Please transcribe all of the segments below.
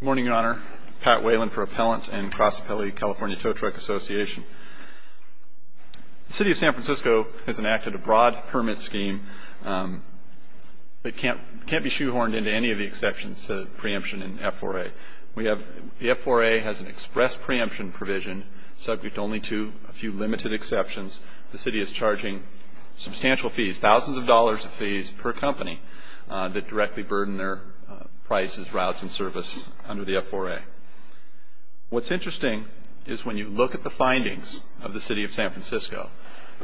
Good morning, Your Honor. Pat Whalen for Appellant and Cross Appellate California Tow Truck Association. The City of San Francisco has enacted a broad permit scheme. It can't be shoehorned into any of the exceptions to the preemption in F4A. The F4A has an express preemption provision subject only to a few limited exceptions. The City is charging substantial fees, thousands of dollars of fees per company, that directly burden their prices, routes, and service under the F4A. What's interesting is when you look at the findings of the City of San Francisco,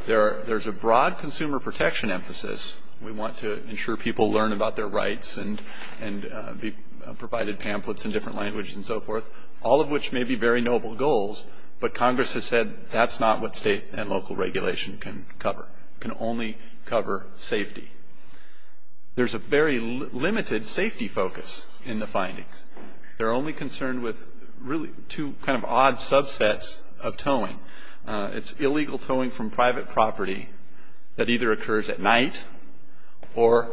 there's a broad consumer protection emphasis. We want to ensure people learn about their rights and be provided pamphlets in different languages and so forth, all of which may be very noble goals, but Congress has said that's not what state and local regulation can cover. It can only cover safety. There's a very limited safety focus in the findings. They're only concerned with really two kind of odd subsets of towing. It's illegal towing from private property that either occurs at night or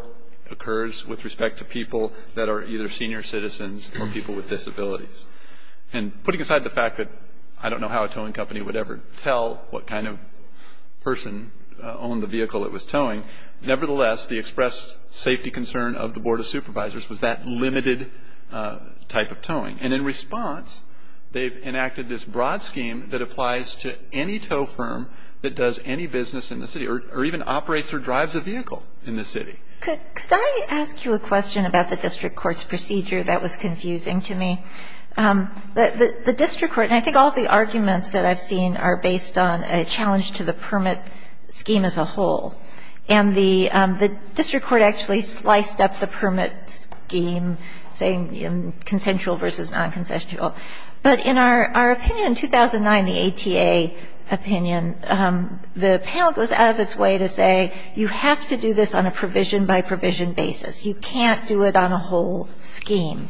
occurs with respect to people that are either senior citizens or people with disabilities. And putting aside the fact that I don't know how a towing company would ever tell what kind of person owned the vehicle that was towing, nevertheless, the expressed safety concern of the Board of Supervisors was that limited type of towing. And in response, they've enacted this broad scheme that applies to any tow firm that does any business in the City or even operates or drives a vehicle in the City. Could I ask you a question about the district court's procedure? That was confusing to me. The district court, and I think all the arguments that I've seen, are based on a challenge to the permit scheme as a whole. And the district court actually sliced up the permit scheme, saying consensual versus non-consensual. But in our opinion in 2009, the ATA opinion, the panel goes out of its way to say you have to do this on a provision-by-provision basis. You can't do it on a whole scheme.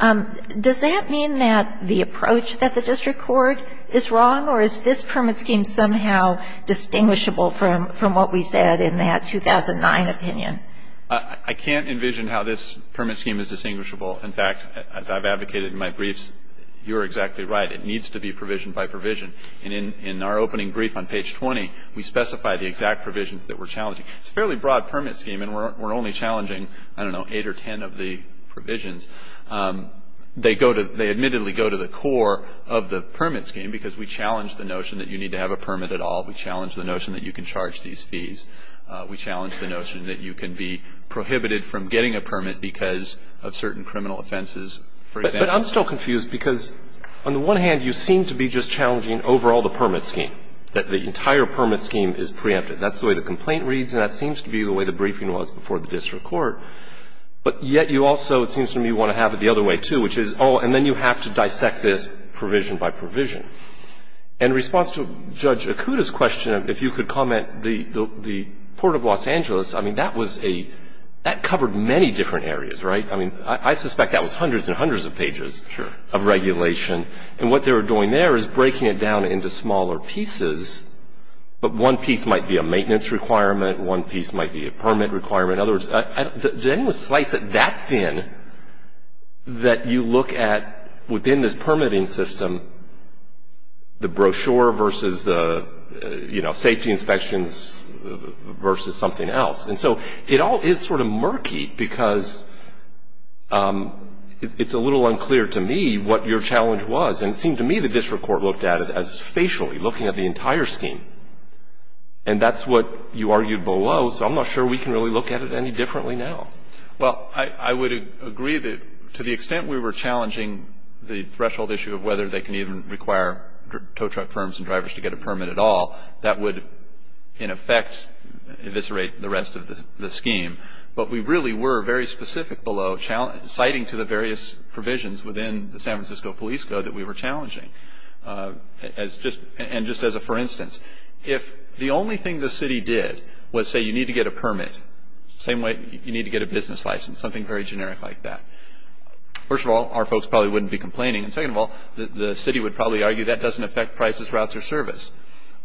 Does that mean that the approach that the district court is wrong, or is this permit scheme somehow distinguishable from what we said in that 2009 opinion? I can't envision how this permit scheme is distinguishable. In fact, as I've advocated in my briefs, you're exactly right. It needs to be provision-by-provision. And in our opening brief on page 20, we specify the exact provisions that we're challenging. It's a fairly broad permit scheme, and we're only challenging, I don't know, eight or ten of the provisions. They go to the core of the permit scheme because we challenge the notion that you need to have a permit at all. We challenge the notion that you can charge these fees. We challenge the notion that you can be prohibited from getting a permit because of certain criminal offenses, for example. I'm still confused because, on the one hand, you seem to be just challenging overall the permit scheme, that the entire permit scheme is preempted. That's the way the complaint reads, and that seems to be the way the briefing was before the district court. But yet you also, it seems to me, want to have it the other way, too, which is, oh, and then you have to dissect this provision-by-provision. In response to Judge Akuta's question, if you could comment, the Port of Los Angeles, I mean, that was a — that covered many different areas, right? I mean, I suspect that was hundreds and hundreds of pages of regulation. And what they were doing there is breaking it down into smaller pieces. But one piece might be a maintenance requirement. One piece might be a permit requirement. In other words, did anyone slice it that thin that you look at, within this permitting system, the brochure versus the, you know, safety inspections versus something else? And so it all is sort of murky because it's a little unclear to me what your challenge was. And it seemed to me the district court looked at it as facially, looking at the entire scheme. And that's what you argued below, so I'm not sure we can really look at it any differently now. Well, I would agree that to the extent we were challenging the threshold issue of whether they can even require tow truck firms and drivers to get a permit at all, that would, in effect, eviscerate the rest of the scheme. But we really were very specific below citing to the various provisions within the San Francisco Police Code that we were challenging. And just as a for instance, if the only thing the city did was say you need to get a permit, same way you need to get a business license, something very generic like that. First of all, our folks probably wouldn't be complaining. And second of all, the city would probably argue that doesn't affect prices, routes, or service.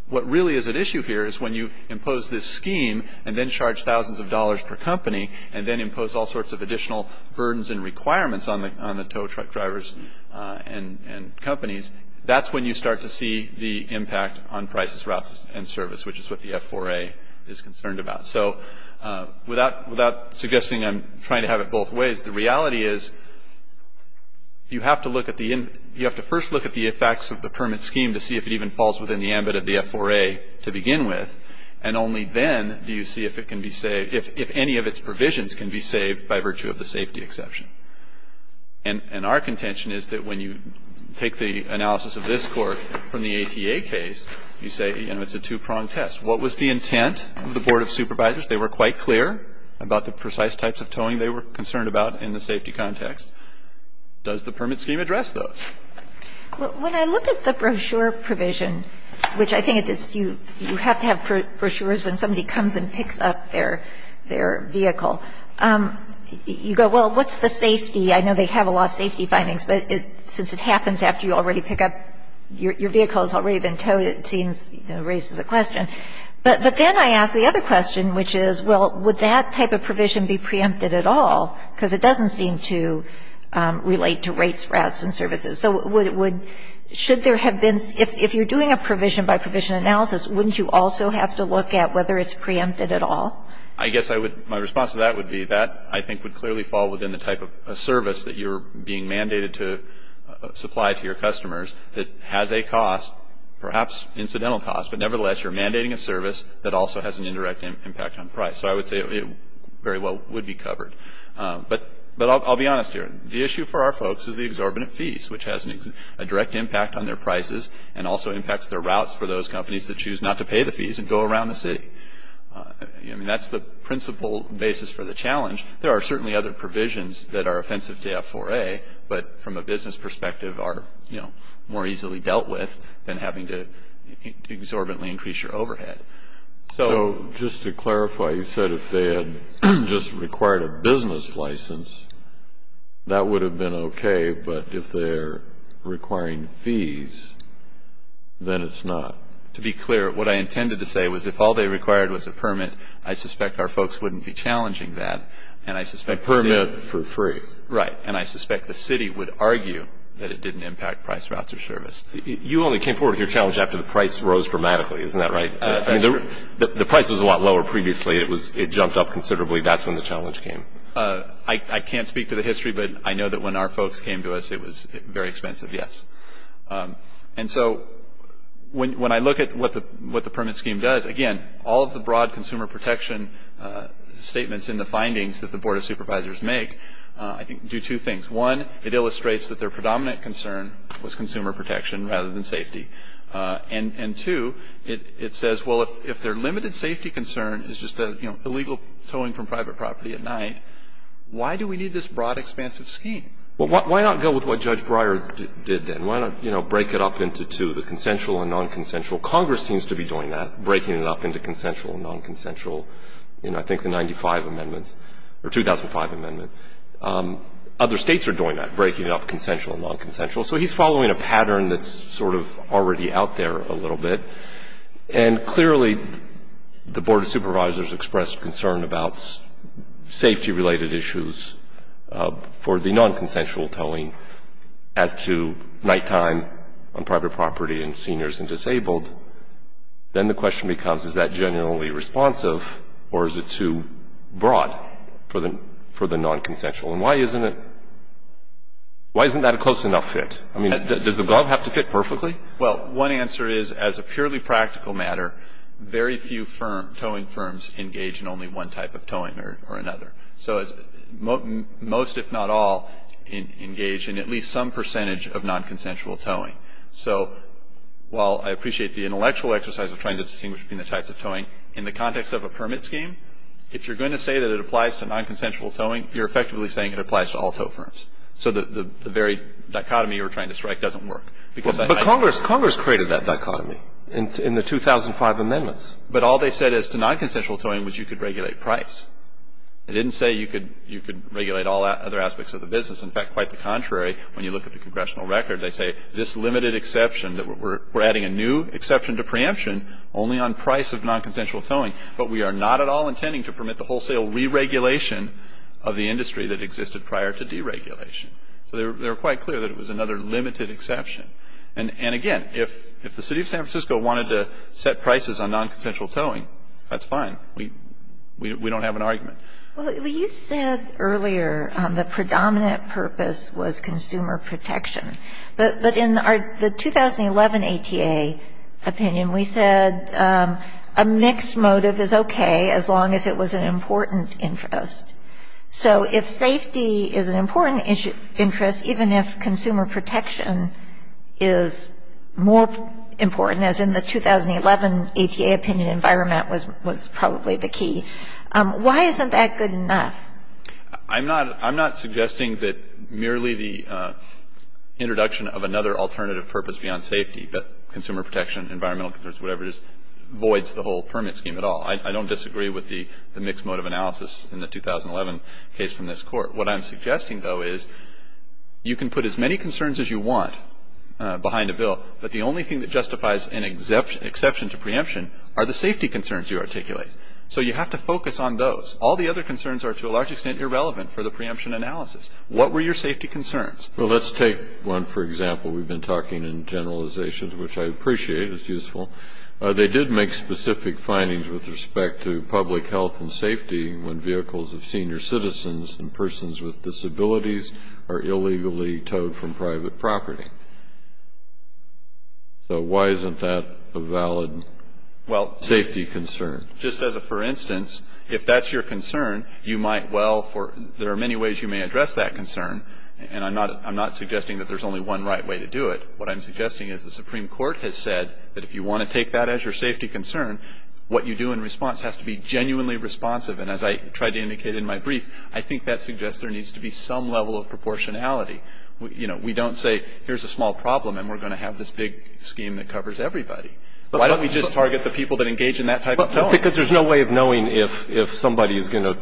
What really is at issue here is when you impose this scheme and then charge thousands of dollars per company and then impose all sorts of additional burdens and requirements on the tow truck drivers and companies, that's when you start to see the impact on prices, routes, and service, which is what the F4A is concerned about. So without suggesting I'm trying to have it both ways, the reality is you have to first look at the effects of the permit scheme to see if it even falls within the ambit of the F4A to begin with. And only then do you see if any of its provisions can be saved by virtue of the safety exception. And our contention is that when you take the analysis of this court from the ATA case, you say it's a two-pronged test. What was the intent of the Board of Supervisors? They were quite clear about the precise types of towing they were concerned about in the safety context. Does the permit scheme address those? When I look at the brochure provision, which I think it's you have to have brochures when somebody comes and picks up their vehicle, you go, well, what's the safety? I know they have a lot of safety findings, but since it happens after you already pick up your vehicle, it's already been towed, it seems raises a question. But then I ask the other question, which is, well, would that type of provision be preempted at all? Because it doesn't seem to relate to rates, rats, and services. So should there have been — if you're doing a provision-by-provision analysis, wouldn't you also have to look at whether it's preempted at all? I guess my response to that would be that I think would clearly fall within the type of service that you're being mandated to supply to your customers that has a cost, perhaps incidental cost, but nevertheless you're mandating a service that also has an indirect impact on price. So I would say it very well would be covered. But I'll be honest here. The issue for our folks is the exorbitant fees, which has a direct impact on their prices and also impacts their routes for those companies that choose not to pay the fees and go around the city. I mean, that's the principal basis for the challenge. There are certainly other provisions that are offensive to F4A, but from a business perspective are, you know, more easily dealt with than having to exorbitantly increase your overhead. So just to clarify, you said if they had just required a business license, that would have been okay. But if they're requiring fees, then it's not. To be clear, what I intended to say was if all they required was a permit, I suspect our folks wouldn't be challenging that. A permit for free. Right. And I suspect the city would argue that it didn't impact price, routes, or service. You only came forward with your challenge after the price rose dramatically. Isn't that right? The price was a lot lower previously. It jumped up considerably. That's when the challenge came. I can't speak to the history, but I know that when our folks came to us, it was very expensive, yes. And so when I look at what the permit scheme does, again, all of the broad consumer protection statements in the findings that the Board of Supervisors make, I think, do two things. One, it illustrates that their predominant concern was consumer protection rather than safety. And, two, it says, well, if their limited safety concern is just illegal towing from private property at night, why do we need this broad, expansive scheme? Well, why not go with what Judge Breyer did then? Why not break it up into two, the consensual and nonconsensual? Congress seems to be doing that, breaking it up into consensual and nonconsensual in, I think, the 95 amendments, or 2005 amendment. Other states are doing that, breaking it up consensual and nonconsensual. So he's following a pattern that's sort of already out there a little bit, and clearly the Board of Supervisors expressed concern about safety-related issues for the nonconsensual towing as to nighttime on private property and seniors and disabled. Then the question becomes, is that generally responsive, or is it too broad for the nonconsensual? And why isn't it — why isn't that a close enough fit? I mean, does the glove have to fit perfectly? Well, one answer is, as a purely practical matter, very few towing firms engage in only one type of towing or another. So most, if not all, engage in at least some percentage of nonconsensual towing. So while I appreciate the intellectual exercise of trying to distinguish between the types of towing, in the context of a permit scheme, if you're going to say that it applies to nonconsensual towing, you're effectively saying it applies to all tow firms. So the very dichotomy you were trying to strike doesn't work. But Congress created that dichotomy in the 2005 amendments. But all they said as to nonconsensual towing was you could regulate price. They didn't say you could regulate all other aspects of the business. In fact, quite the contrary. When you look at the congressional record, they say this limited exception, that we're adding a new exception to preemption only on price of nonconsensual towing, but we are not at all intending to permit the wholesale re-regulation of the industry that existed prior to deregulation. So they were quite clear that it was another limited exception. And, again, if the city of San Francisco wanted to set prices on nonconsensual towing, that's fine. We don't have an argument. Well, you said earlier the predominant purpose was consumer protection. But in our 2011 ATA opinion, we said a mixed motive is okay as long as it was an important interest. So if safety is an important interest, even if consumer protection is more important, as in the 2011 ATA opinion, environment was probably the key, why isn't that good enough? I'm not suggesting that merely the introduction of another alternative purpose beyond safety, but consumer protection, environmental concerns, whatever it is, voids the whole permit scheme at all. I don't disagree with the mixed motive analysis in the 2011 case from this Court. What I'm suggesting, though, is you can put as many concerns as you want behind a bill, but the only thing that justifies an exception to preemption are the safety concerns you articulate. So you have to focus on those. All the other concerns are, to a large extent, irrelevant for the preemption analysis. What were your safety concerns? Well, let's take one, for example. We've been talking in generalizations, which I appreciate. It's useful. They did make specific findings with respect to public health and safety when vehicles of senior citizens and persons with disabilities are illegally towed from private property. So why isn't that a valid safety concern? Just as a for instance, if that's your concern, there are many ways you may address that concern, and I'm not suggesting that there's only one right way to do it. What I'm suggesting is the Supreme Court has said that if you want to take that as your safety concern, what you do in response has to be genuinely responsive. And as I tried to indicate in my brief, I think that suggests there needs to be some level of proportionality. We don't say, here's a small problem, and we're going to have this big scheme that covers everybody. Why don't we just target the people that engage in that type of towing? Because there's no way of knowing if somebody is going to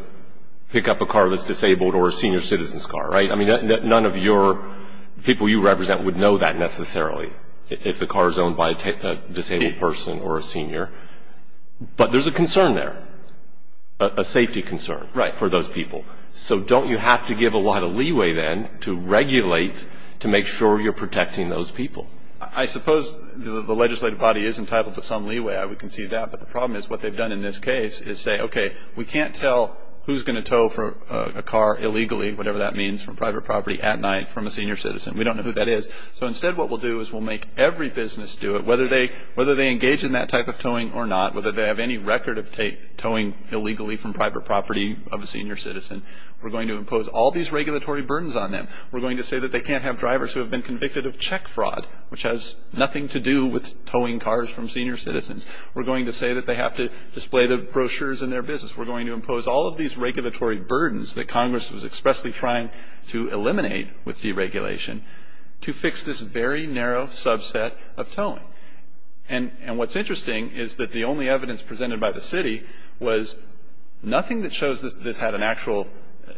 pick up a car that's disabled or a senior citizen's car, right? I mean, none of your people you represent would know that necessarily, if the car is owned by a disabled person or a senior. But there's a concern there, a safety concern for those people. So don't you have to give a lot of leeway then to regulate to make sure you're protecting those people? I suppose the legislative body is entitled to some leeway. I would concede that. But the problem is what they've done in this case is say, okay, we can't tell who's going to tow a car illegally, whatever that means, from private property at night from a senior citizen. We don't know who that is. So instead what we'll do is we'll make every business do it, whether they engage in that type of towing or not, whether they have any record of towing illegally from private property of a senior citizen. We're going to impose all these regulatory burdens on them. We're going to say that they can't have drivers who have been convicted of check fraud, which has nothing to do with towing cars from senior citizens. We're going to say that they have to display the brochures in their business. We're going to impose all of these regulatory burdens that Congress was expressly trying to eliminate with deregulation to fix this very narrow subset of towing. And what's interesting is that the only evidence presented by the city was nothing that shows this had an actual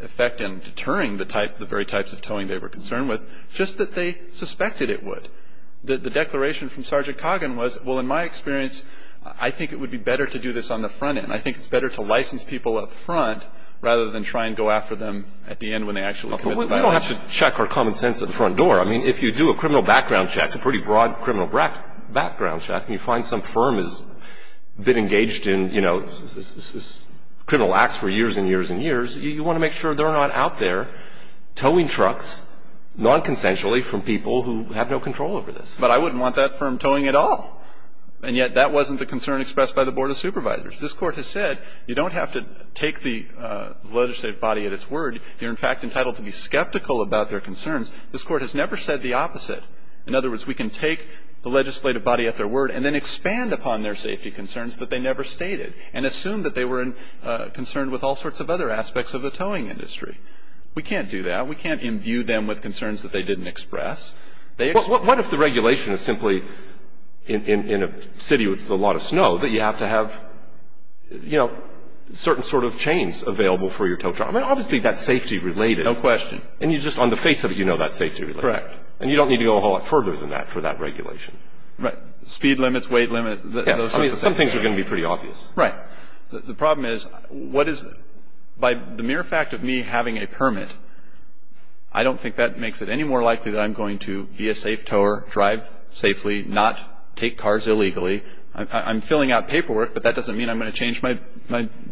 effect in deterring the very types of towing they were concerned with, just that they suspected it would. The declaration from Sergeant Coggin was, well, in my experience, I think it would be better to do this on the front end. I think it's better to license people up front rather than try and go after them at the end when they actually commit the violation. Well, we don't have to check our common sense at the front door. I mean, if you do a criminal background check, a pretty broad criminal background check, and you find some firm has been engaged in, you know, criminal acts for years and years and years, you want to make sure they're not out there towing trucks nonconsensually from people who have no control over this. But I wouldn't want that firm towing at all. And yet that wasn't the concern expressed by the Board of Supervisors. This Court has said you don't have to take the legislative body at its word. You're, in fact, entitled to be skeptical about their concerns. This Court has never said the opposite. In other words, we can take the legislative body at their word and then expand upon their safety concerns that they never stated and assume that they were concerned with all sorts of other aspects of the towing industry. We can't do that. We can't imbue them with concerns that they didn't express. What if the regulation is simply, in a city with a lot of snow, that you have to have, you know, certain sort of chains available for your tow truck? I mean, obviously, that's safety-related. No question. And you just, on the face of it, you know that's safety-related. Correct. And you don't need to go a whole lot further than that for that regulation. Right. Speed limits, weight limits, those sorts of things. I mean, some things are going to be pretty obvious. Right. The problem is what is, by the mere fact of me having a permit, I don't think that makes it any more likely that I'm going to be a safe towerer, drive safely, not take cars illegally. I'm filling out paperwork, but that doesn't mean I'm going to change my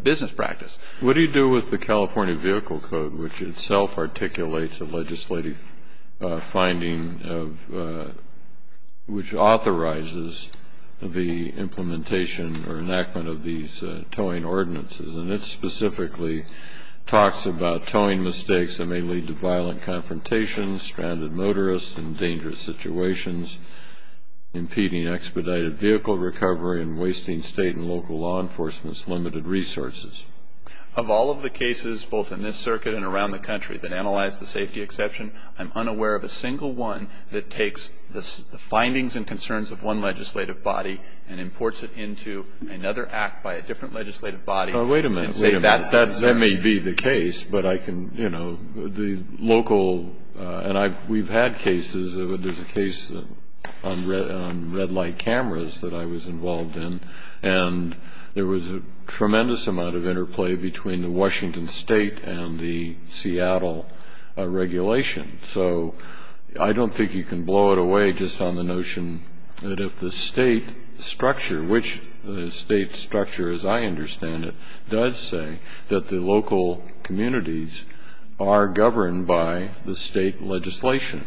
business practice. What do you do with the California Vehicle Code, which itself articulates a legislative finding which authorizes the implementation or enactment of these towing ordinances? And it specifically talks about towing mistakes that may lead to violent confrontations, stranded motorists in dangerous situations, impeding expedited vehicle recovery, and wasting state and local law enforcement's limited resources. Of all of the cases, both in this circuit and around the country, that analyze the safety exception, I'm unaware of a single one that takes the findings and concerns of one legislative body and imports it into another act by a different legislative body. Wait a minute. Wait a minute. That may be the case, but I can, you know, the local, and we've had cases. There's a case on red light cameras that I was involved in, and there was a tremendous amount of interplay between the Washington state and the Seattle regulation. So I don't think you can blow it away just on the notion that if the state structure, which the state structure, as I understand it, does say that the local communities are governed by the state legislation.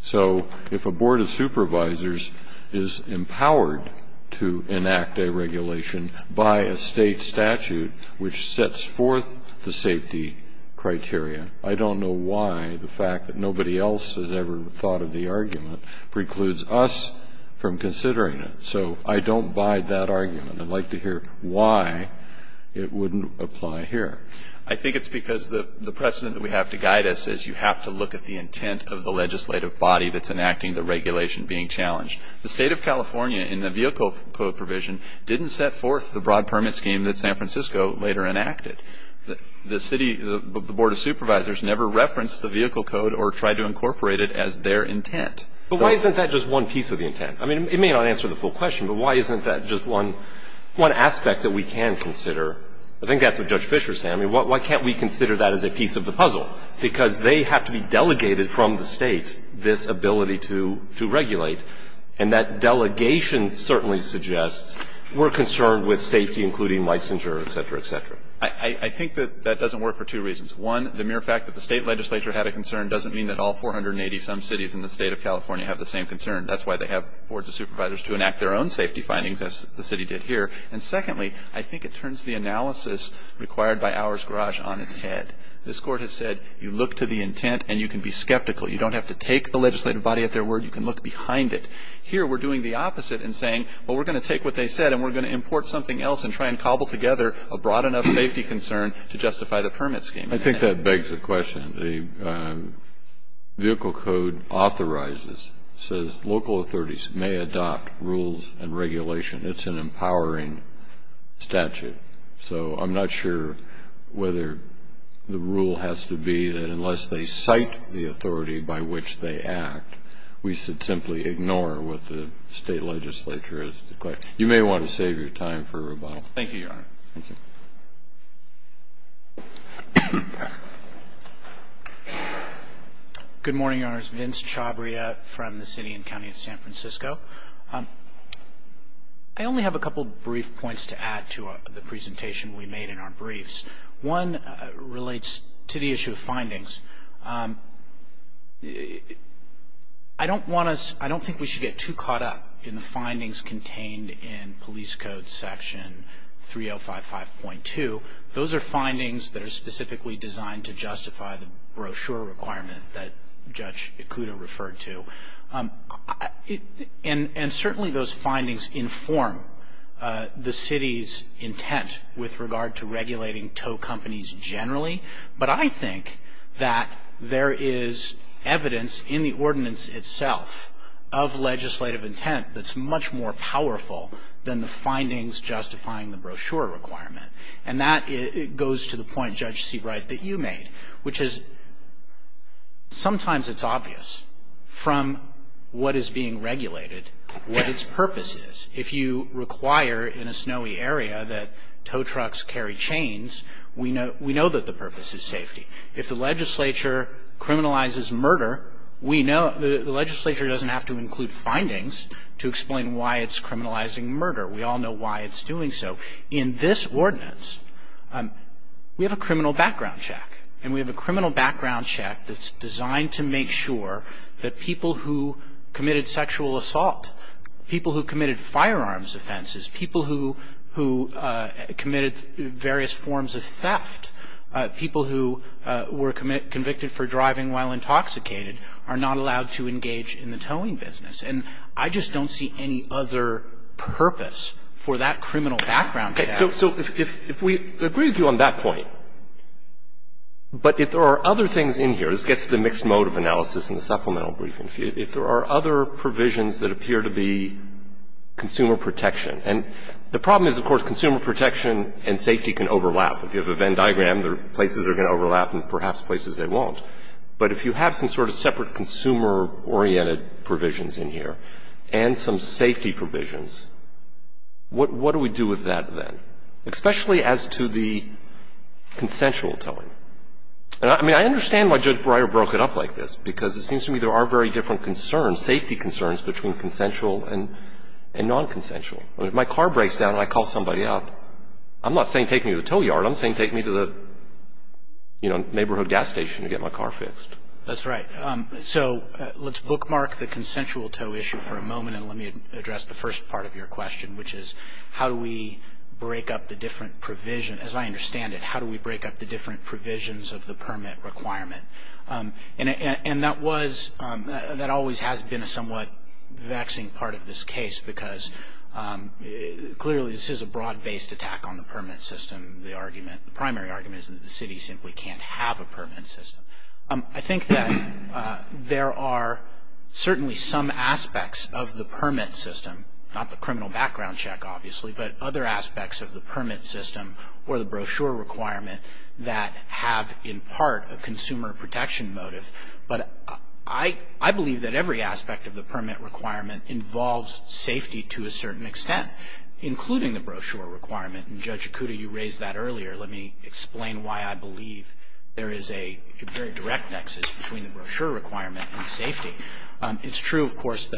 So if a board of supervisors is empowered to enact a regulation by a state statute, which sets forth the safety criteria, I don't know why the fact that nobody else has ever thought of the argument precludes us from considering it. So I don't buy that argument. I'd like to hear why it wouldn't apply here. I think it's because the precedent that we have to guide us is you have to look at the intent of the legislative body that's enacting the regulation being challenged. The state of California, in the vehicle code provision, didn't set forth the broad permit scheme that San Francisco later enacted. The city, the board of supervisors never referenced the vehicle code or tried to incorporate it as their intent. But why isn't that just one piece of the intent? I mean, it may not answer the full question, but why isn't that just one aspect that we can consider? I think that's what Judge Fischer said. I mean, why can't we consider that as a piece of the puzzle? Because they have to be delegated from the State this ability to regulate. And that delegation certainly suggests we're concerned with safety, including licensure, et cetera, et cetera. I think that that doesn't work for two reasons. One, the mere fact that the State legislature had a concern doesn't mean that all 480-some cities in the State of California have the same concern. That's why they have boards of supervisors to enact their own safety findings as the City did here. And secondly, I think it turns the analysis required by Ours Garage on its head. This Court has said you look to the intent and you can be skeptical. You don't have to take the legislative body at their word. You can look behind it. Here we're doing the opposite in saying, well, we're going to take what they said and we're going to import something else and try and cobble together a broad enough safety concern to justify the permit scheme. I think that begs the question. The vehicle code authorizes, says local authorities may adopt rules and regulation. It's an empowering statute. So I'm not sure whether the rule has to be that unless they cite the authority by which they act, we should simply ignore what the State legislature has declared. You may want to save your time for rebuttal. Thank you, Your Honor. Thank you. Good morning, Your Honors. Vince Chabria from the City and County of San Francisco. I only have a couple of brief points to add to the presentation we made in our briefs. One relates to the issue of findings. I don't think we should get too caught up in the findings contained in Police Code Section 3055.2. Those are findings that are specifically designed to justify the brochure requirement that Judge Ikuda referred to. And certainly those findings inform the City's intent with regard to regulating tow companies generally. But I think that there is evidence in the ordinance itself of legislative intent that's much more powerful than the findings justifying the brochure requirement. And that goes to the point, Judge Seabright, that you made, which is sometimes it's obvious. From what is being regulated, what its purpose is. If you require in a snowy area that tow trucks carry chains, we know that the purpose is safety. If the legislature criminalizes murder, we know the legislature doesn't have to include findings to explain why it's criminalizing murder. We all know why it's doing so. In this ordinance, we have a criminal background check. And we have a criminal background check that's designed to make sure that people who committed sexual assault, people who committed firearms offenses, people who committed various forms of theft, people who were convicted for driving while intoxicated are not allowed to engage in the towing business. And I just don't see any other purpose for that criminal background check. So if we agree with you on that point, but if there are other things in here, this gets to the mixed mode of analysis in the supplemental briefing, if there are other provisions that appear to be consumer protection. And the problem is, of course, consumer protection and safety can overlap. If you have a Venn diagram, there are places that are going to overlap and perhaps places they won't. But if you have some sort of separate consumer-oriented provisions in here and some sort of consensual-oriented provisions in here, it's going to overlap. It's going to be consensual towing, especially as to the consensual towing. And I mean, I understand why Judge Breyer broke it up like this, because it seems to me there are very different concerns, safety concerns, between consensual and nonconsensual. I mean, if my car breaks down and I call somebody up, I'm not saying take me to the As I understand it, how do we break up the different provisions of the permit requirement? And that was, that always has been a somewhat vexing part of this case, because clearly this is a broad-based attack on the permit system. The argument, the primary argument is that the city simply can't have a permit system. I think that there are certainly some aspects of the permit system, not the criminal permit system or the brochure requirement, that have in part a consumer protection motive. But I believe that every aspect of the permit requirement involves safety to a certain extent, including the brochure requirement. And Judge Okuda, you raised that earlier. Let me explain why I believe there is a very direct nexus between the brochure requirement and safety. It's true, of course,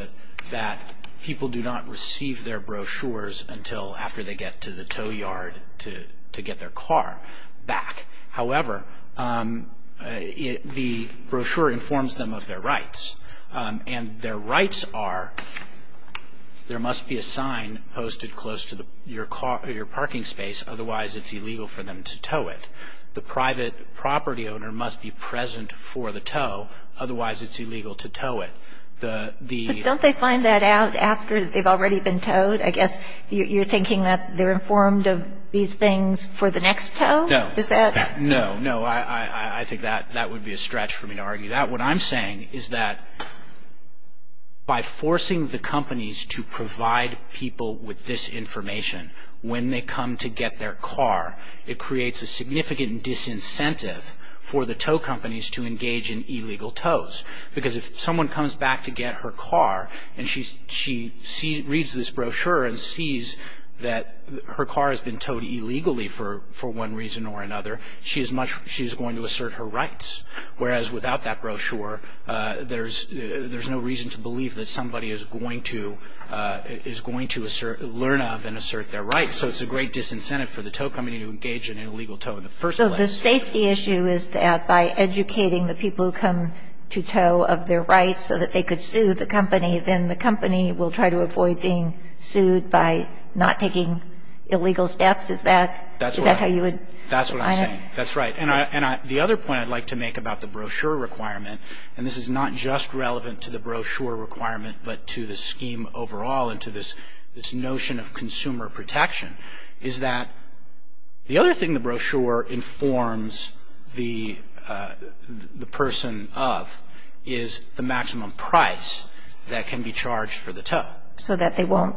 that people do not receive their brochures until after they get to the tow yard to get their car back. However, the brochure informs them of their rights. And their rights are there must be a sign posted close to your parking space, otherwise it's illegal for them to tow it. The private property owner must be present for the tow, otherwise it's illegal to tow it. The ---- And they're informed of these things for the next tow? No. Is that ---- No. No. I think that would be a stretch for me to argue that. What I'm saying is that by forcing the companies to provide people with this information when they come to get their car, it creates a significant disincentive for the tow companies to engage in illegal tows. Because if someone comes back to get her car and she reads this brochure and sees that her car has been towed illegally for one reason or another, she is going to assert her rights. Whereas without that brochure, there's no reason to believe that somebody is going to learn of and assert their rights. So it's a great disincentive for the tow company to engage in illegal tow in the first place. So the safety issue is that by educating the people who come to tow of their rights so that they could sue the company, then the company will try to avoid being sued by not taking illegal steps. Is that how you would ---- That's what I'm saying. That's right. And the other point I'd like to make about the brochure requirement, and this is not just relevant to the brochure requirement but to the scheme overall and to this notion of consumer protection, is that the other thing the brochure informs the person of is the maximum price that can be charged for the tow. So that they won't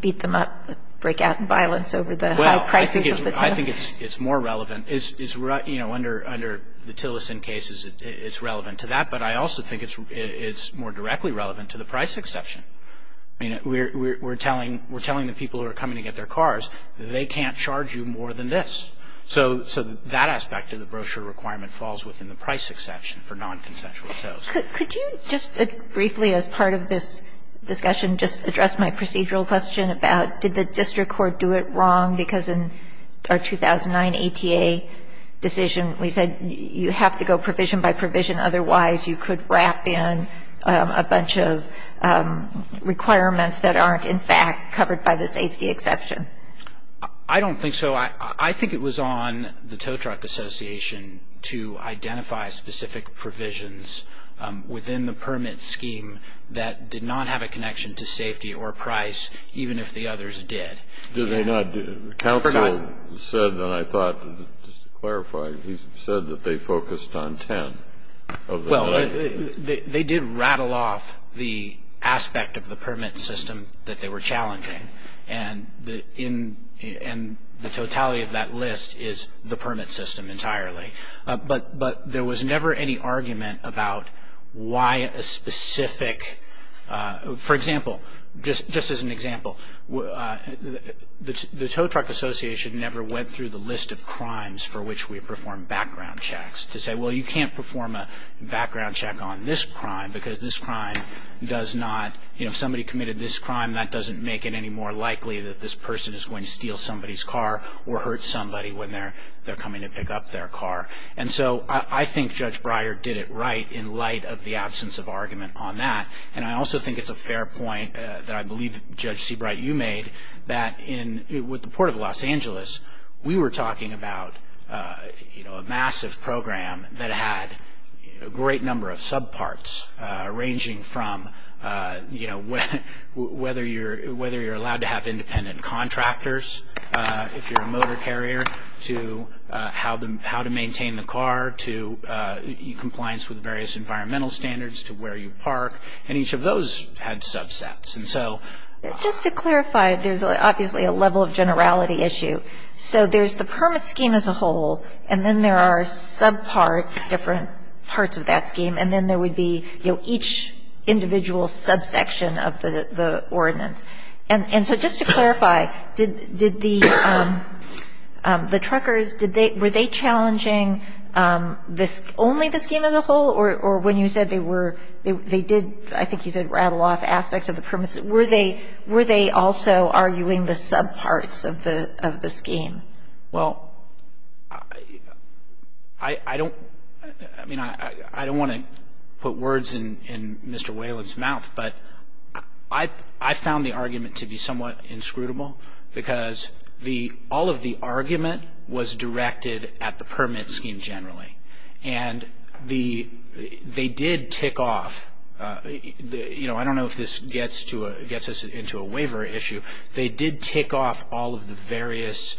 beat them up, break out in violence over the high prices of the tow? Well, I think it's more relevant. You know, under the Tillerson case, it's relevant to that. But I also think it's more directly relevant to the price exception. I mean, we're telling the people who are coming to get their cars, they can't charge you more than this. So that aspect of the brochure requirement falls within the price exception for nonconsensual tows. Could you just briefly, as part of this discussion, just address my procedural question about did the district court do it wrong? Because in our 2009 ATA decision, we said you have to go provision by provision. Otherwise, you could wrap in a bunch of requirements that aren't in fact covered by the safety exception. I don't think so. Well, I think it was on the Tow Truck Association to identify specific provisions within the permit scheme that did not have a connection to safety or price, even if the others did. Did they not? I forgot. Counsel said, and I thought, just to clarify, he said that they focused on ten. Well, they did rattle off the aspect of the permit system that they were challenging. And the totality of that list is the permit system entirely. But there was never any argument about why a specific – for example, just as an example, the Tow Truck Association never went through the list of crimes for which we performed background checks to say, well, you can't perform a background check on this crime because this crime does not – if somebody committed this crime, that doesn't make it any more likely that this person is going to steal somebody's car or hurt somebody when they're coming to pick up their car. And so I think Judge Breyer did it right in light of the absence of argument on that. And I also think it's a fair point that I believe Judge Seabright, you made, that in – with the Port of Los Angeles, we were talking about a massive program that had a great number of subparts ranging from whether you're allowed to have independent contractors if you're a motor carrier, to how to maintain the car, to compliance with various environmental standards, to where you park. And each of those had subsets. And so – Just to clarify, there's obviously a level of generality issue. So there's the permit scheme as a whole, and then there are subparts, different parts of that scheme, and then there would be, you know, each individual subsection of the ordinance. And so just to clarify, did the truckers – did they – were they challenging this – only the scheme as a whole, or when you said they were – they did, I think you said, rattle off aspects of the permits. Were they – were they also arguing the subparts of the scheme? Well, I don't – I mean, I don't want to put words in Mr. Whalen's mouth, but I found the argument to be somewhat inscrutable because the – all of the argument was directed at the permit scheme generally. And the – they did tick off – you know, I don't know if this gets to a – gets us into a waiver issue. They did tick off all of the various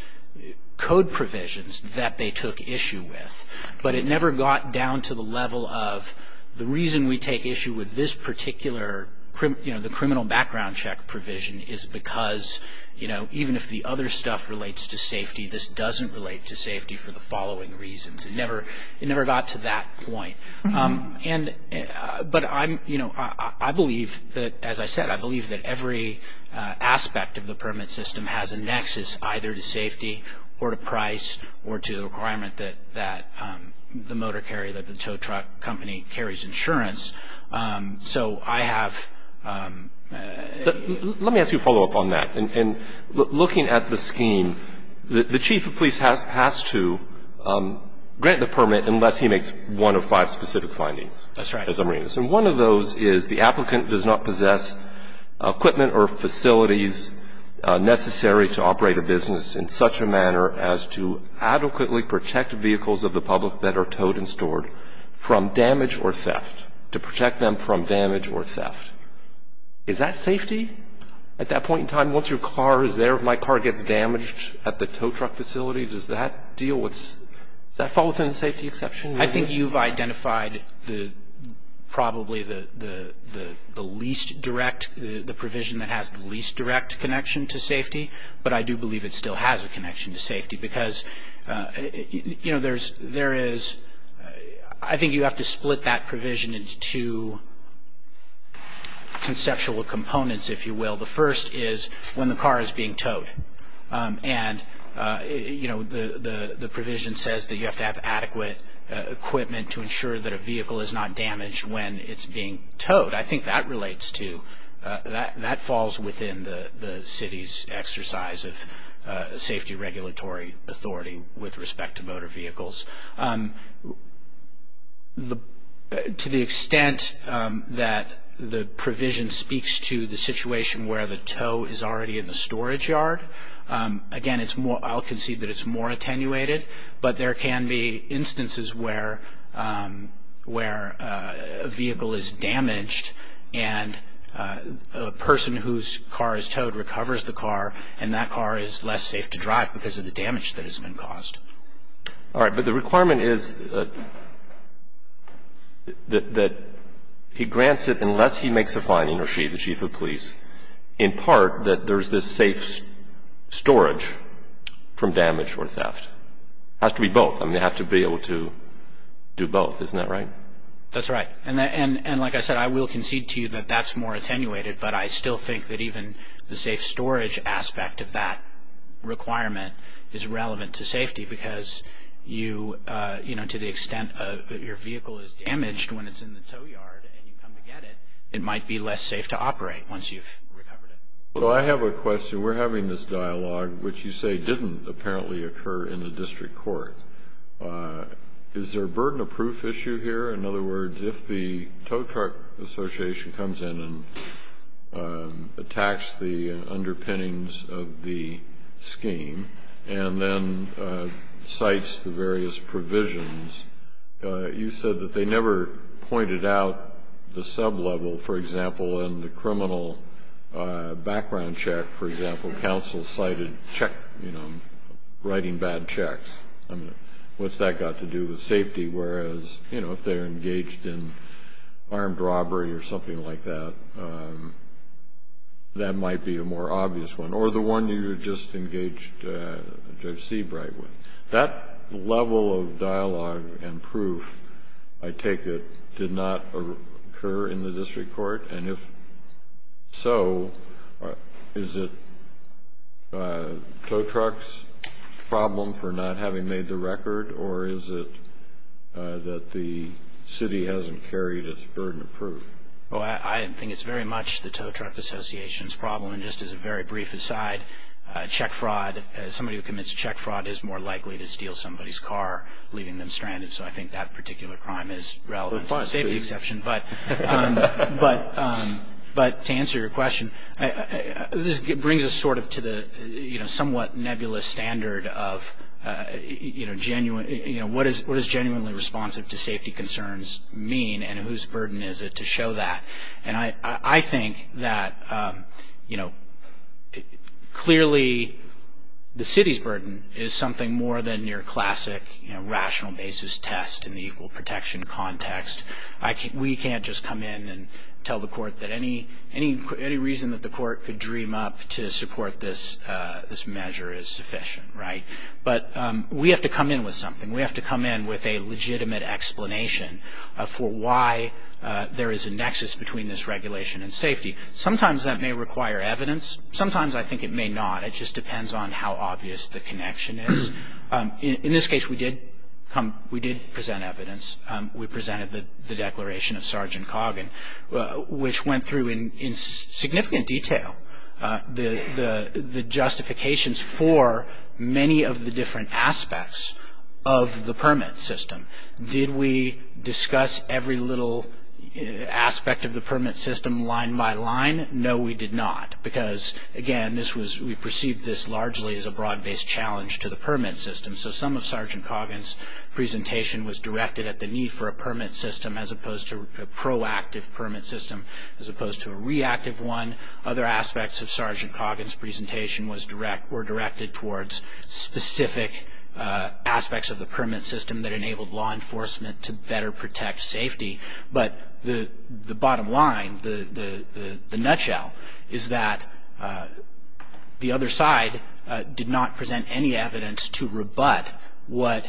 code provisions that they took issue with. But it never got down to the level of the reason we take issue with this particular – you know, the criminal background check provision is because, you know, even if the other stuff relates to safety, this doesn't relate to safety for the following reasons. It never – it never got to that point. And – but I'm – you know, I believe that – as I said, I believe that every aspect of the permit system has a nexus either to safety or to price or to the requirement that the motor carrier, that the tow truck company carries insurance. So I have – Let me ask you a follow-up on that. And looking at the scheme, the chief of police has to grant the permit unless he makes one of five specific findings. That's right. As I'm reading this. And one of those is the applicant does not possess equipment or facilities necessary to operate a business in such a manner as to adequately protect vehicles of the public that are towed and stored from damage or theft, to protect them from damage or theft. Is that safety? At that point in time, once your car is there, if my car gets damaged at the tow truck facility, does that deal with – does that fall within the safety exception? I think you've identified the – probably the least direct – the provision that has the least direct connection to safety. But I do believe it still has a connection to safety. Because, you know, there's – there is – I think you have to split that provision into two conceptual components, if you will. The first is when the car is being towed. And, you know, the provision says that you have to have adequate equipment to ensure that a vehicle is not damaged when it's being towed. I think that relates to – that falls within the city's exercise of safety regulatory authority with respect to motor vehicles. To the extent that the provision speaks to the situation where the tow is already in the storage yard, again, it's more – I'll concede that it's more attenuated. But there can be instances where a vehicle is damaged and a person whose car is towed recovers the car, and that car is less safe to drive because of the damage that has been caused. All right. But the requirement is that he grants it unless he makes a finding, or she, the chief of police, in part that there's this safe storage from damage or theft. It has to be both. I mean, they have to be able to do both. Isn't that right? That's right. And like I said, I will concede to you that that's more attenuated. But I still think that even the safe storage aspect of that requirement is relevant to safety. Because you – you know, to the extent that your vehicle is damaged when it's in the tow yard and you come to get it, it might be less safe to operate once you've recovered it. Well, I have a question. We're having this dialogue, which you say didn't apparently occur in the district court. Is there a burden of proof issue here? In other words, if the tow truck association comes in and attacks the underpinnings of the scheme and then cites the various provisions, you said that they never pointed out the sub-level, for example, in the criminal background check, for example, counsel cited writing bad checks. I mean, what's that got to do with safety? Whereas, you know, if they're engaged in armed robbery or something like that, that might be a more obvious one. Or the one you just engaged Judge Seabright with. That level of dialogue and proof, I take it, did not occur in the district court? And if so, is it tow truck's problem for not having made the record, or is it that the city hasn't carried its burden of proof? Well, I think it's very much the tow truck association's problem. And just as a very brief aside, check fraud, somebody who commits check fraud is more likely to steal somebody's car, leaving them stranded. So I think that particular crime is relevant to the safety exception. But to answer your question, this brings us sort of to the somewhat nebulous standard of, you know, what does genuinely responsive to safety concerns mean, and whose burden is it to show that? And I think that, you know, clearly the city's burden is something more than your classic, you know, rational basis test in the equal protection context. We can't just come in and tell the court that any reason that the court could dream up to support this measure is sufficient. Right? But we have to come in with something. We have to come in with a legitimate explanation for why there is a nexus between this regulation and safety. Sometimes that may require evidence. Sometimes I think it may not. It just depends on how obvious the connection is. In this case, we did present evidence. We presented the declaration of Sergeant Coggin, which went through in significant detail the justifications for many of the different aspects of the permit system. Did we discuss every little aspect of the permit system line by line? No, we did not. Because, again, this was, we perceived this largely as a broad-based challenge to the permit system. So some of Sergeant Coggin's presentation was directed at the need for a permit system, as opposed to a proactive permit system, as opposed to a reactive one. Other aspects of Sergeant Coggin's presentation were directed towards specific aspects of the permit system that enabled law enforcement to better protect safety. But the bottom line, the nutshell, is that the other side did not present any evidence to rebut what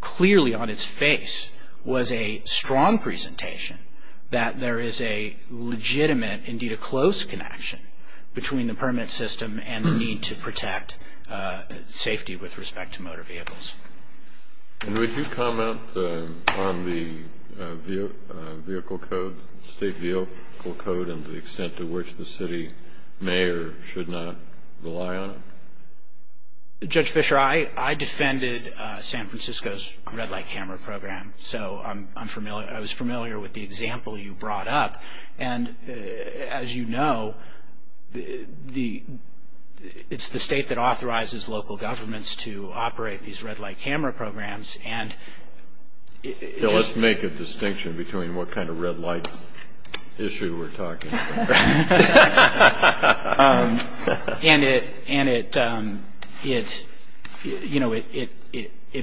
clearly on its face was a strong presentation, that there is a legitimate, indeed a close connection, between the permit system and the need to protect safety with respect to motor vehicles. And would you comment on the vehicle code, state vehicle code, and the extent to which the city may or should not rely on it? Judge Fischer, I defended San Francisco's red light camera program, so I'm familiar, I was familiar with the example you brought up. And, as you know, it's the state that authorizes local governments to operate these red light camera programs. Let's make a distinction between what kind of red light issue we're talking about. And it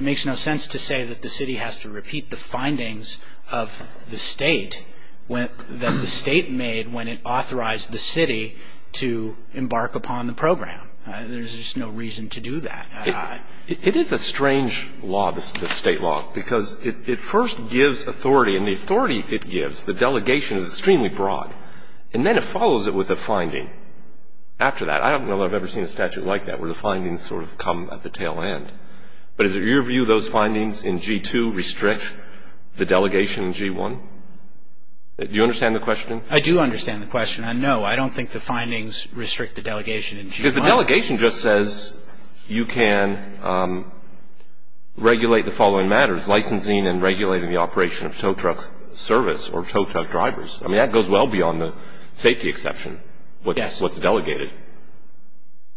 makes no sense to say that the city has to repeat the findings of the state, that the state made when it authorized the city to embark upon the program. There's just no reason to do that. It is a strange law, this state law, because it first gives authority, and the authority it gives, the delegation, is extremely broad. And then it follows it with a finding after that. I don't know that I've ever seen a statute like that, where the findings sort of come at the tail end. But is it your view those findings in G-2 restrict the delegation in G-1? Do you understand the question? I do understand the question. And, no, I don't think the findings restrict the delegation in G-1. Because the delegation just says you can regulate the following matters, licensing and regulating the operation of tow truck service or tow truck drivers. I mean, that goes well beyond the safety exception, what's delegated,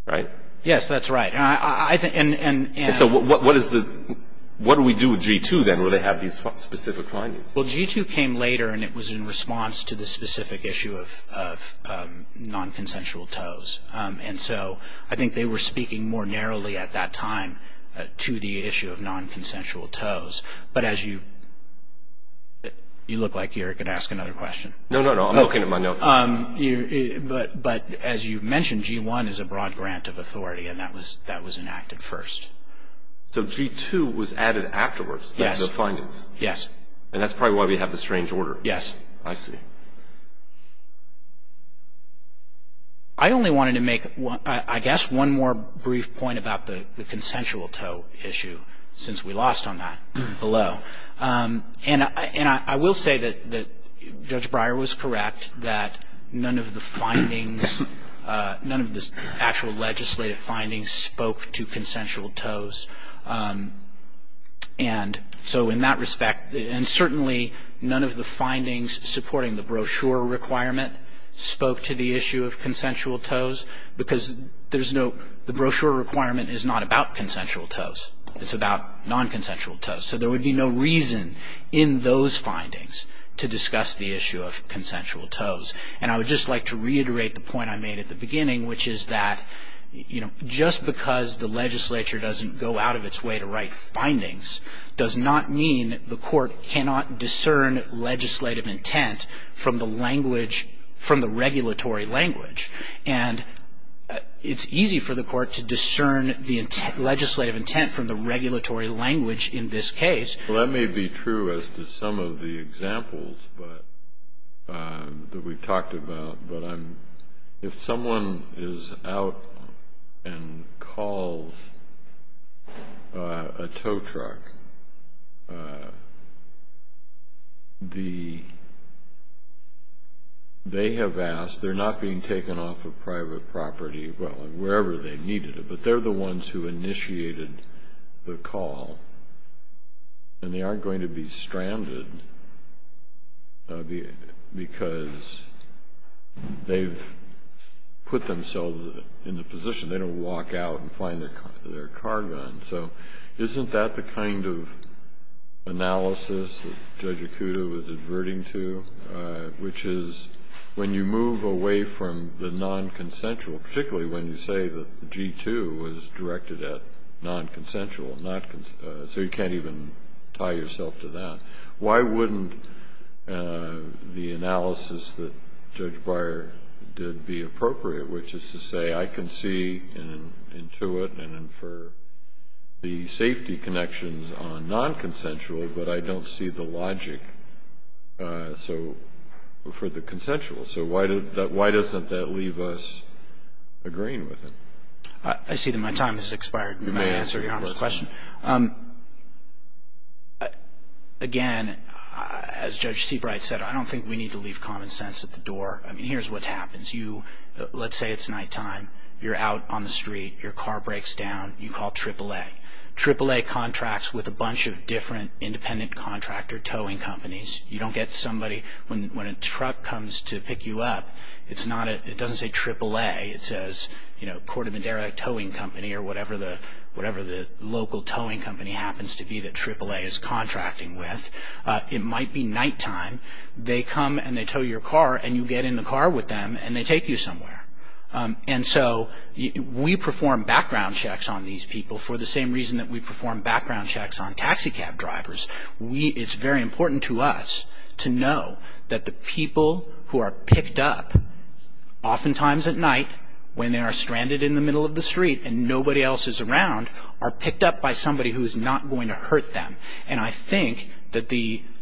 right? Yes, that's right. And so what do we do with G-2, then, where they have these specific findings? Well, G-2 came later, and it was in response to the specific issue of nonconsensual tows. And so I think they were speaking more narrowly at that time to the issue of nonconsensual tows. But as you – you look like you're going to ask another question. No, no, no. I'm looking at my notes. But as you mentioned, G-1 is a broad grant of authority, and that was enacted first. So G-2 was added afterwards as the findings. Yes. And that's probably why we have the strange order. Yes. I see. I only wanted to make, I guess, one more brief point about the consensual tow issue, since we lost on that below. And I will say that Judge Breyer was correct that none of the findings, none of the actual legislative findings spoke to consensual tows. And so in that respect, and certainly none of the findings supporting the brochure requirement spoke to the issue of consensual tows, because there's no – the brochure requirement is not about consensual tows. It's about nonconsensual tows. So there would be no reason in those findings to discuss the issue of consensual tows. And I would just like to reiterate the point I made at the beginning, which is that just because the legislature doesn't go out of its way to write findings does not mean the court cannot discern legislative intent from the language, from the regulatory language. And it's easy for the court to discern the legislative intent from the regulatory language in this case. Well, that may be true as to some of the examples that we've talked about. But if someone is out and calls a tow truck, they have asked – they're not being taken off of private property, well, wherever they needed it, but they're the ones who initiated the call. And they aren't going to be stranded because they've put themselves in the position. They don't walk out and find their car gone. So isn't that the kind of analysis that Judge Acuda was adverting to, which is when you move away from the nonconsensual, particularly when you say that the G-2 was directed at nonconsensual, so you can't even tie yourself to that. Why wouldn't the analysis that Judge Beyer did be appropriate, which is to say I can see and intuit and infer the safety connections on nonconsensual, but I don't see the logic for the consensual. So why doesn't that leave us agreeing with it? I see that my time has expired. May I answer Your Honor's question? Again, as Judge Seabright said, I don't think we need to leave common sense at the door. I mean, here's what happens. Let's say it's nighttime. You're out on the street. Your car breaks down. You call AAA. AAA contracts with a bunch of different independent contractor towing companies. You don't get somebody. When a truck comes to pick you up, it doesn't say AAA. It says Corte Madera Towing Company or whatever the local towing company happens to be that AAA is contracting with. It might be nighttime. They come and they tow your car, and you get in the car with them, and they take you somewhere. And so we perform background checks on these people for the same reason that we perform background checks on taxicab drivers. It's very important to us to know that the people who are picked up oftentimes at night when they are stranded in the middle of the street and nobody else is around are picked up by somebody who is not going to hurt them. And I think that,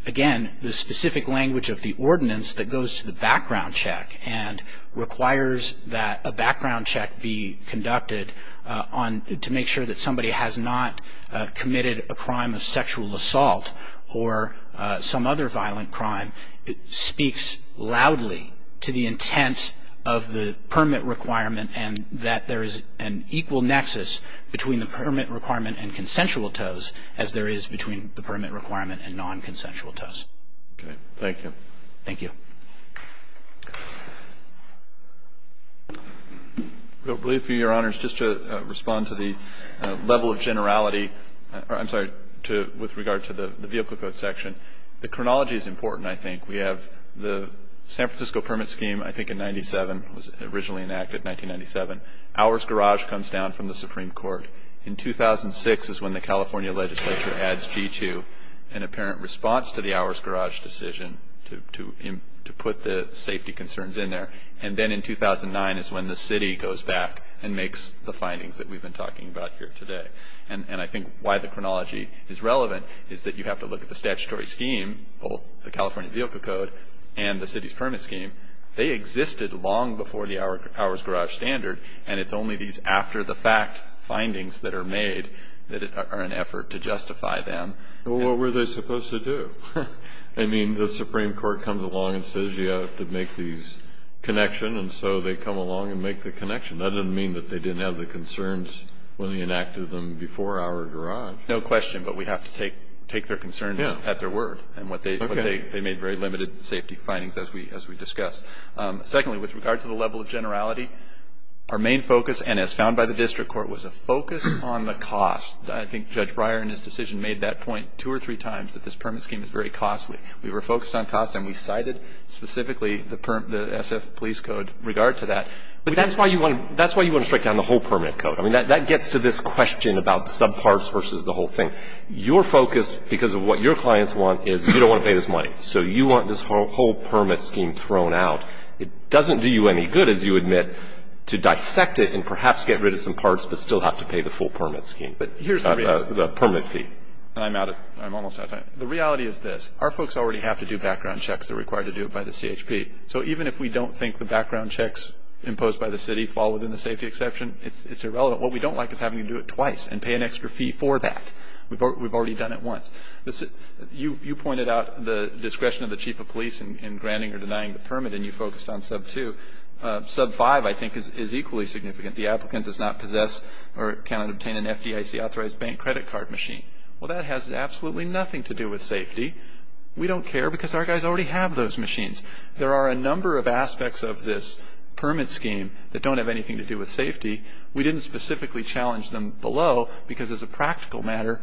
again, the specific language of the ordinance that goes to the background check and requires that a background check be conducted to make sure that somebody has not committed a crime of sexual assault or some other violent crime speaks loudly to the intent of the permit requirement and that there is an equal nexus between the permit requirement and consensual tows as there is between the permit requirement and non-consensual tows. Okay. Thank you. Thank you. I believe for you, Your Honors, just to respond to the level of generality, I'm sorry, with regard to the vehicle code section, the chronology is important, I think. We have the San Francisco Permit Scheme, I think in 1997, was originally enacted in 1997. Ours Garage comes down from the Supreme Court. In 2006 is when the California legislature adds G2, an apparent response to the Ours Garage decision to put the safety concerns in there. And then in 2009 is when the city goes back and makes the findings that we've been talking about here today. And I think why the chronology is relevant is that you have to look at the statutory scheme, both the California Vehicle Code and the city's permit scheme. They existed long before the Ours Garage standard, and it's only these after-the-fact findings that are made that are an effort to justify them. Well, what were they supposed to do? I mean, the Supreme Court comes along and says you have to make these connection, and so they come along and make the connection. That doesn't mean that they didn't have the concerns when they enacted them before Ours Garage. No question, but we have to take their concerns at their word and what they made very limited safety findings as we discussed. Secondly, with regard to the level of generality, our main focus, and as found by the district court, was a focus on the cost. I think Judge Breyer in his decision made that point two or three times, that this permit scheme is very costly. We were focused on cost, and we cited specifically the SF Police Code regard to that. But that's why you want to strike down the whole permit code. I mean, that gets to this question about subparts versus the whole thing. Your focus, because of what your clients want, is you don't want to pay this money. So you want this whole permit scheme thrown out. It doesn't do you any good, as you admit, to dissect it and perhaps get rid of some parts but still have to pay the full permit scheme. But here's the reality. The permit fee. I'm out of time. I'm almost out of time. The reality is this. Our folks already have to do background checks. They're required to do it by the CHP. So even if we don't think the background checks imposed by the city fall within the safety exception, it's irrelevant. What we don't like is having to do it twice and pay an extra fee for that. We've already done it once. You pointed out the discretion of the chief of police in granting or denying the permit, and you focused on sub 2. Sub 5, I think, is equally significant. The applicant does not possess or cannot obtain an FDIC-authorized bank credit card machine. Well, that has absolutely nothing to do with safety. We don't care because our guys already have those machines. There are a number of aspects of this permit scheme that don't have anything to do with safety. We didn't specifically challenge them below because, as a practical matter,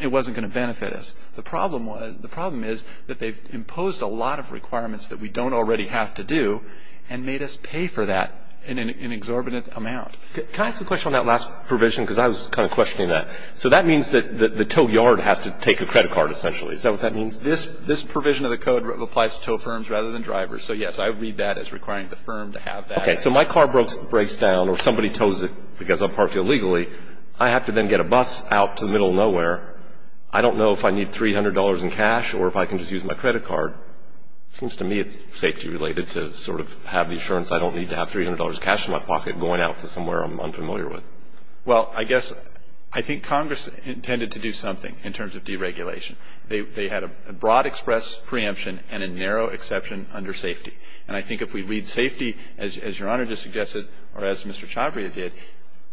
it wasn't going to benefit us. The problem is that they've imposed a lot of requirements that we don't already have to do and made us pay for that in an exorbitant amount. Can I ask a question on that last provision? Because I was kind of questioning that. So that means that the tow yard has to take a credit card, essentially. Is that what that means? This provision of the code applies to tow firms rather than drivers. So, yes, I read that as requiring the firm to have that. Okay. So my car breaks down or somebody tows it because I parked illegally. I have to then get a bus out to the middle of nowhere. I don't know if I need $300 in cash or if I can just use my credit card. It seems to me it's safety-related to sort of have the assurance I don't need to have $300 of cash in my pocket going out to somewhere I'm unfamiliar with. Well, I guess I think Congress intended to do something in terms of deregulation. They had a broad express preemption and a narrow exception under safety. And I think if we read safety, as Your Honor just suggested or as Mr. Chavria did,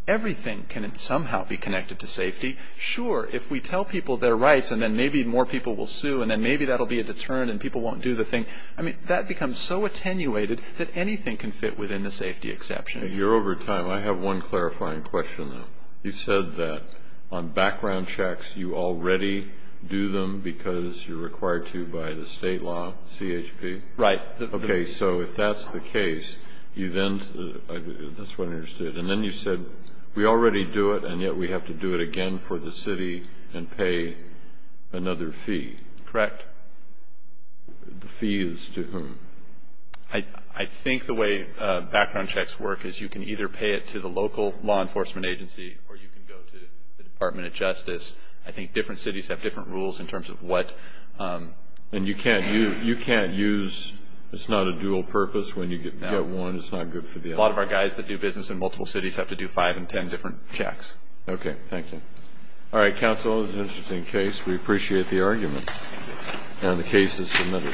everything can somehow be connected to safety. Sure, if we tell people their rights and then maybe more people will sue and then maybe that will be a deterrent and people won't do the thing, I mean, that becomes so attenuated that anything can fit within the safety exception. And you're over time. I have one clarifying question, though. You said that on background checks you already do them because you're required to by the State law, CHP. Okay. So if that's the case, that's what I understood. And then you said we already do it and yet we have to do it again for the city and pay another fee. Correct. The fee is to whom? I think the way background checks work is you can either pay it to the local law enforcement agency or you can go to the Department of Justice. I think different cities have different rules in terms of what. And you can't use, it's not a dual purpose when you get one, it's not good for the other. A lot of our guys that do business in multiple cities have to do five and ten different checks. Okay. Thank you. All right, counsel, this is an interesting case. We appreciate the argument. And the case is submitted.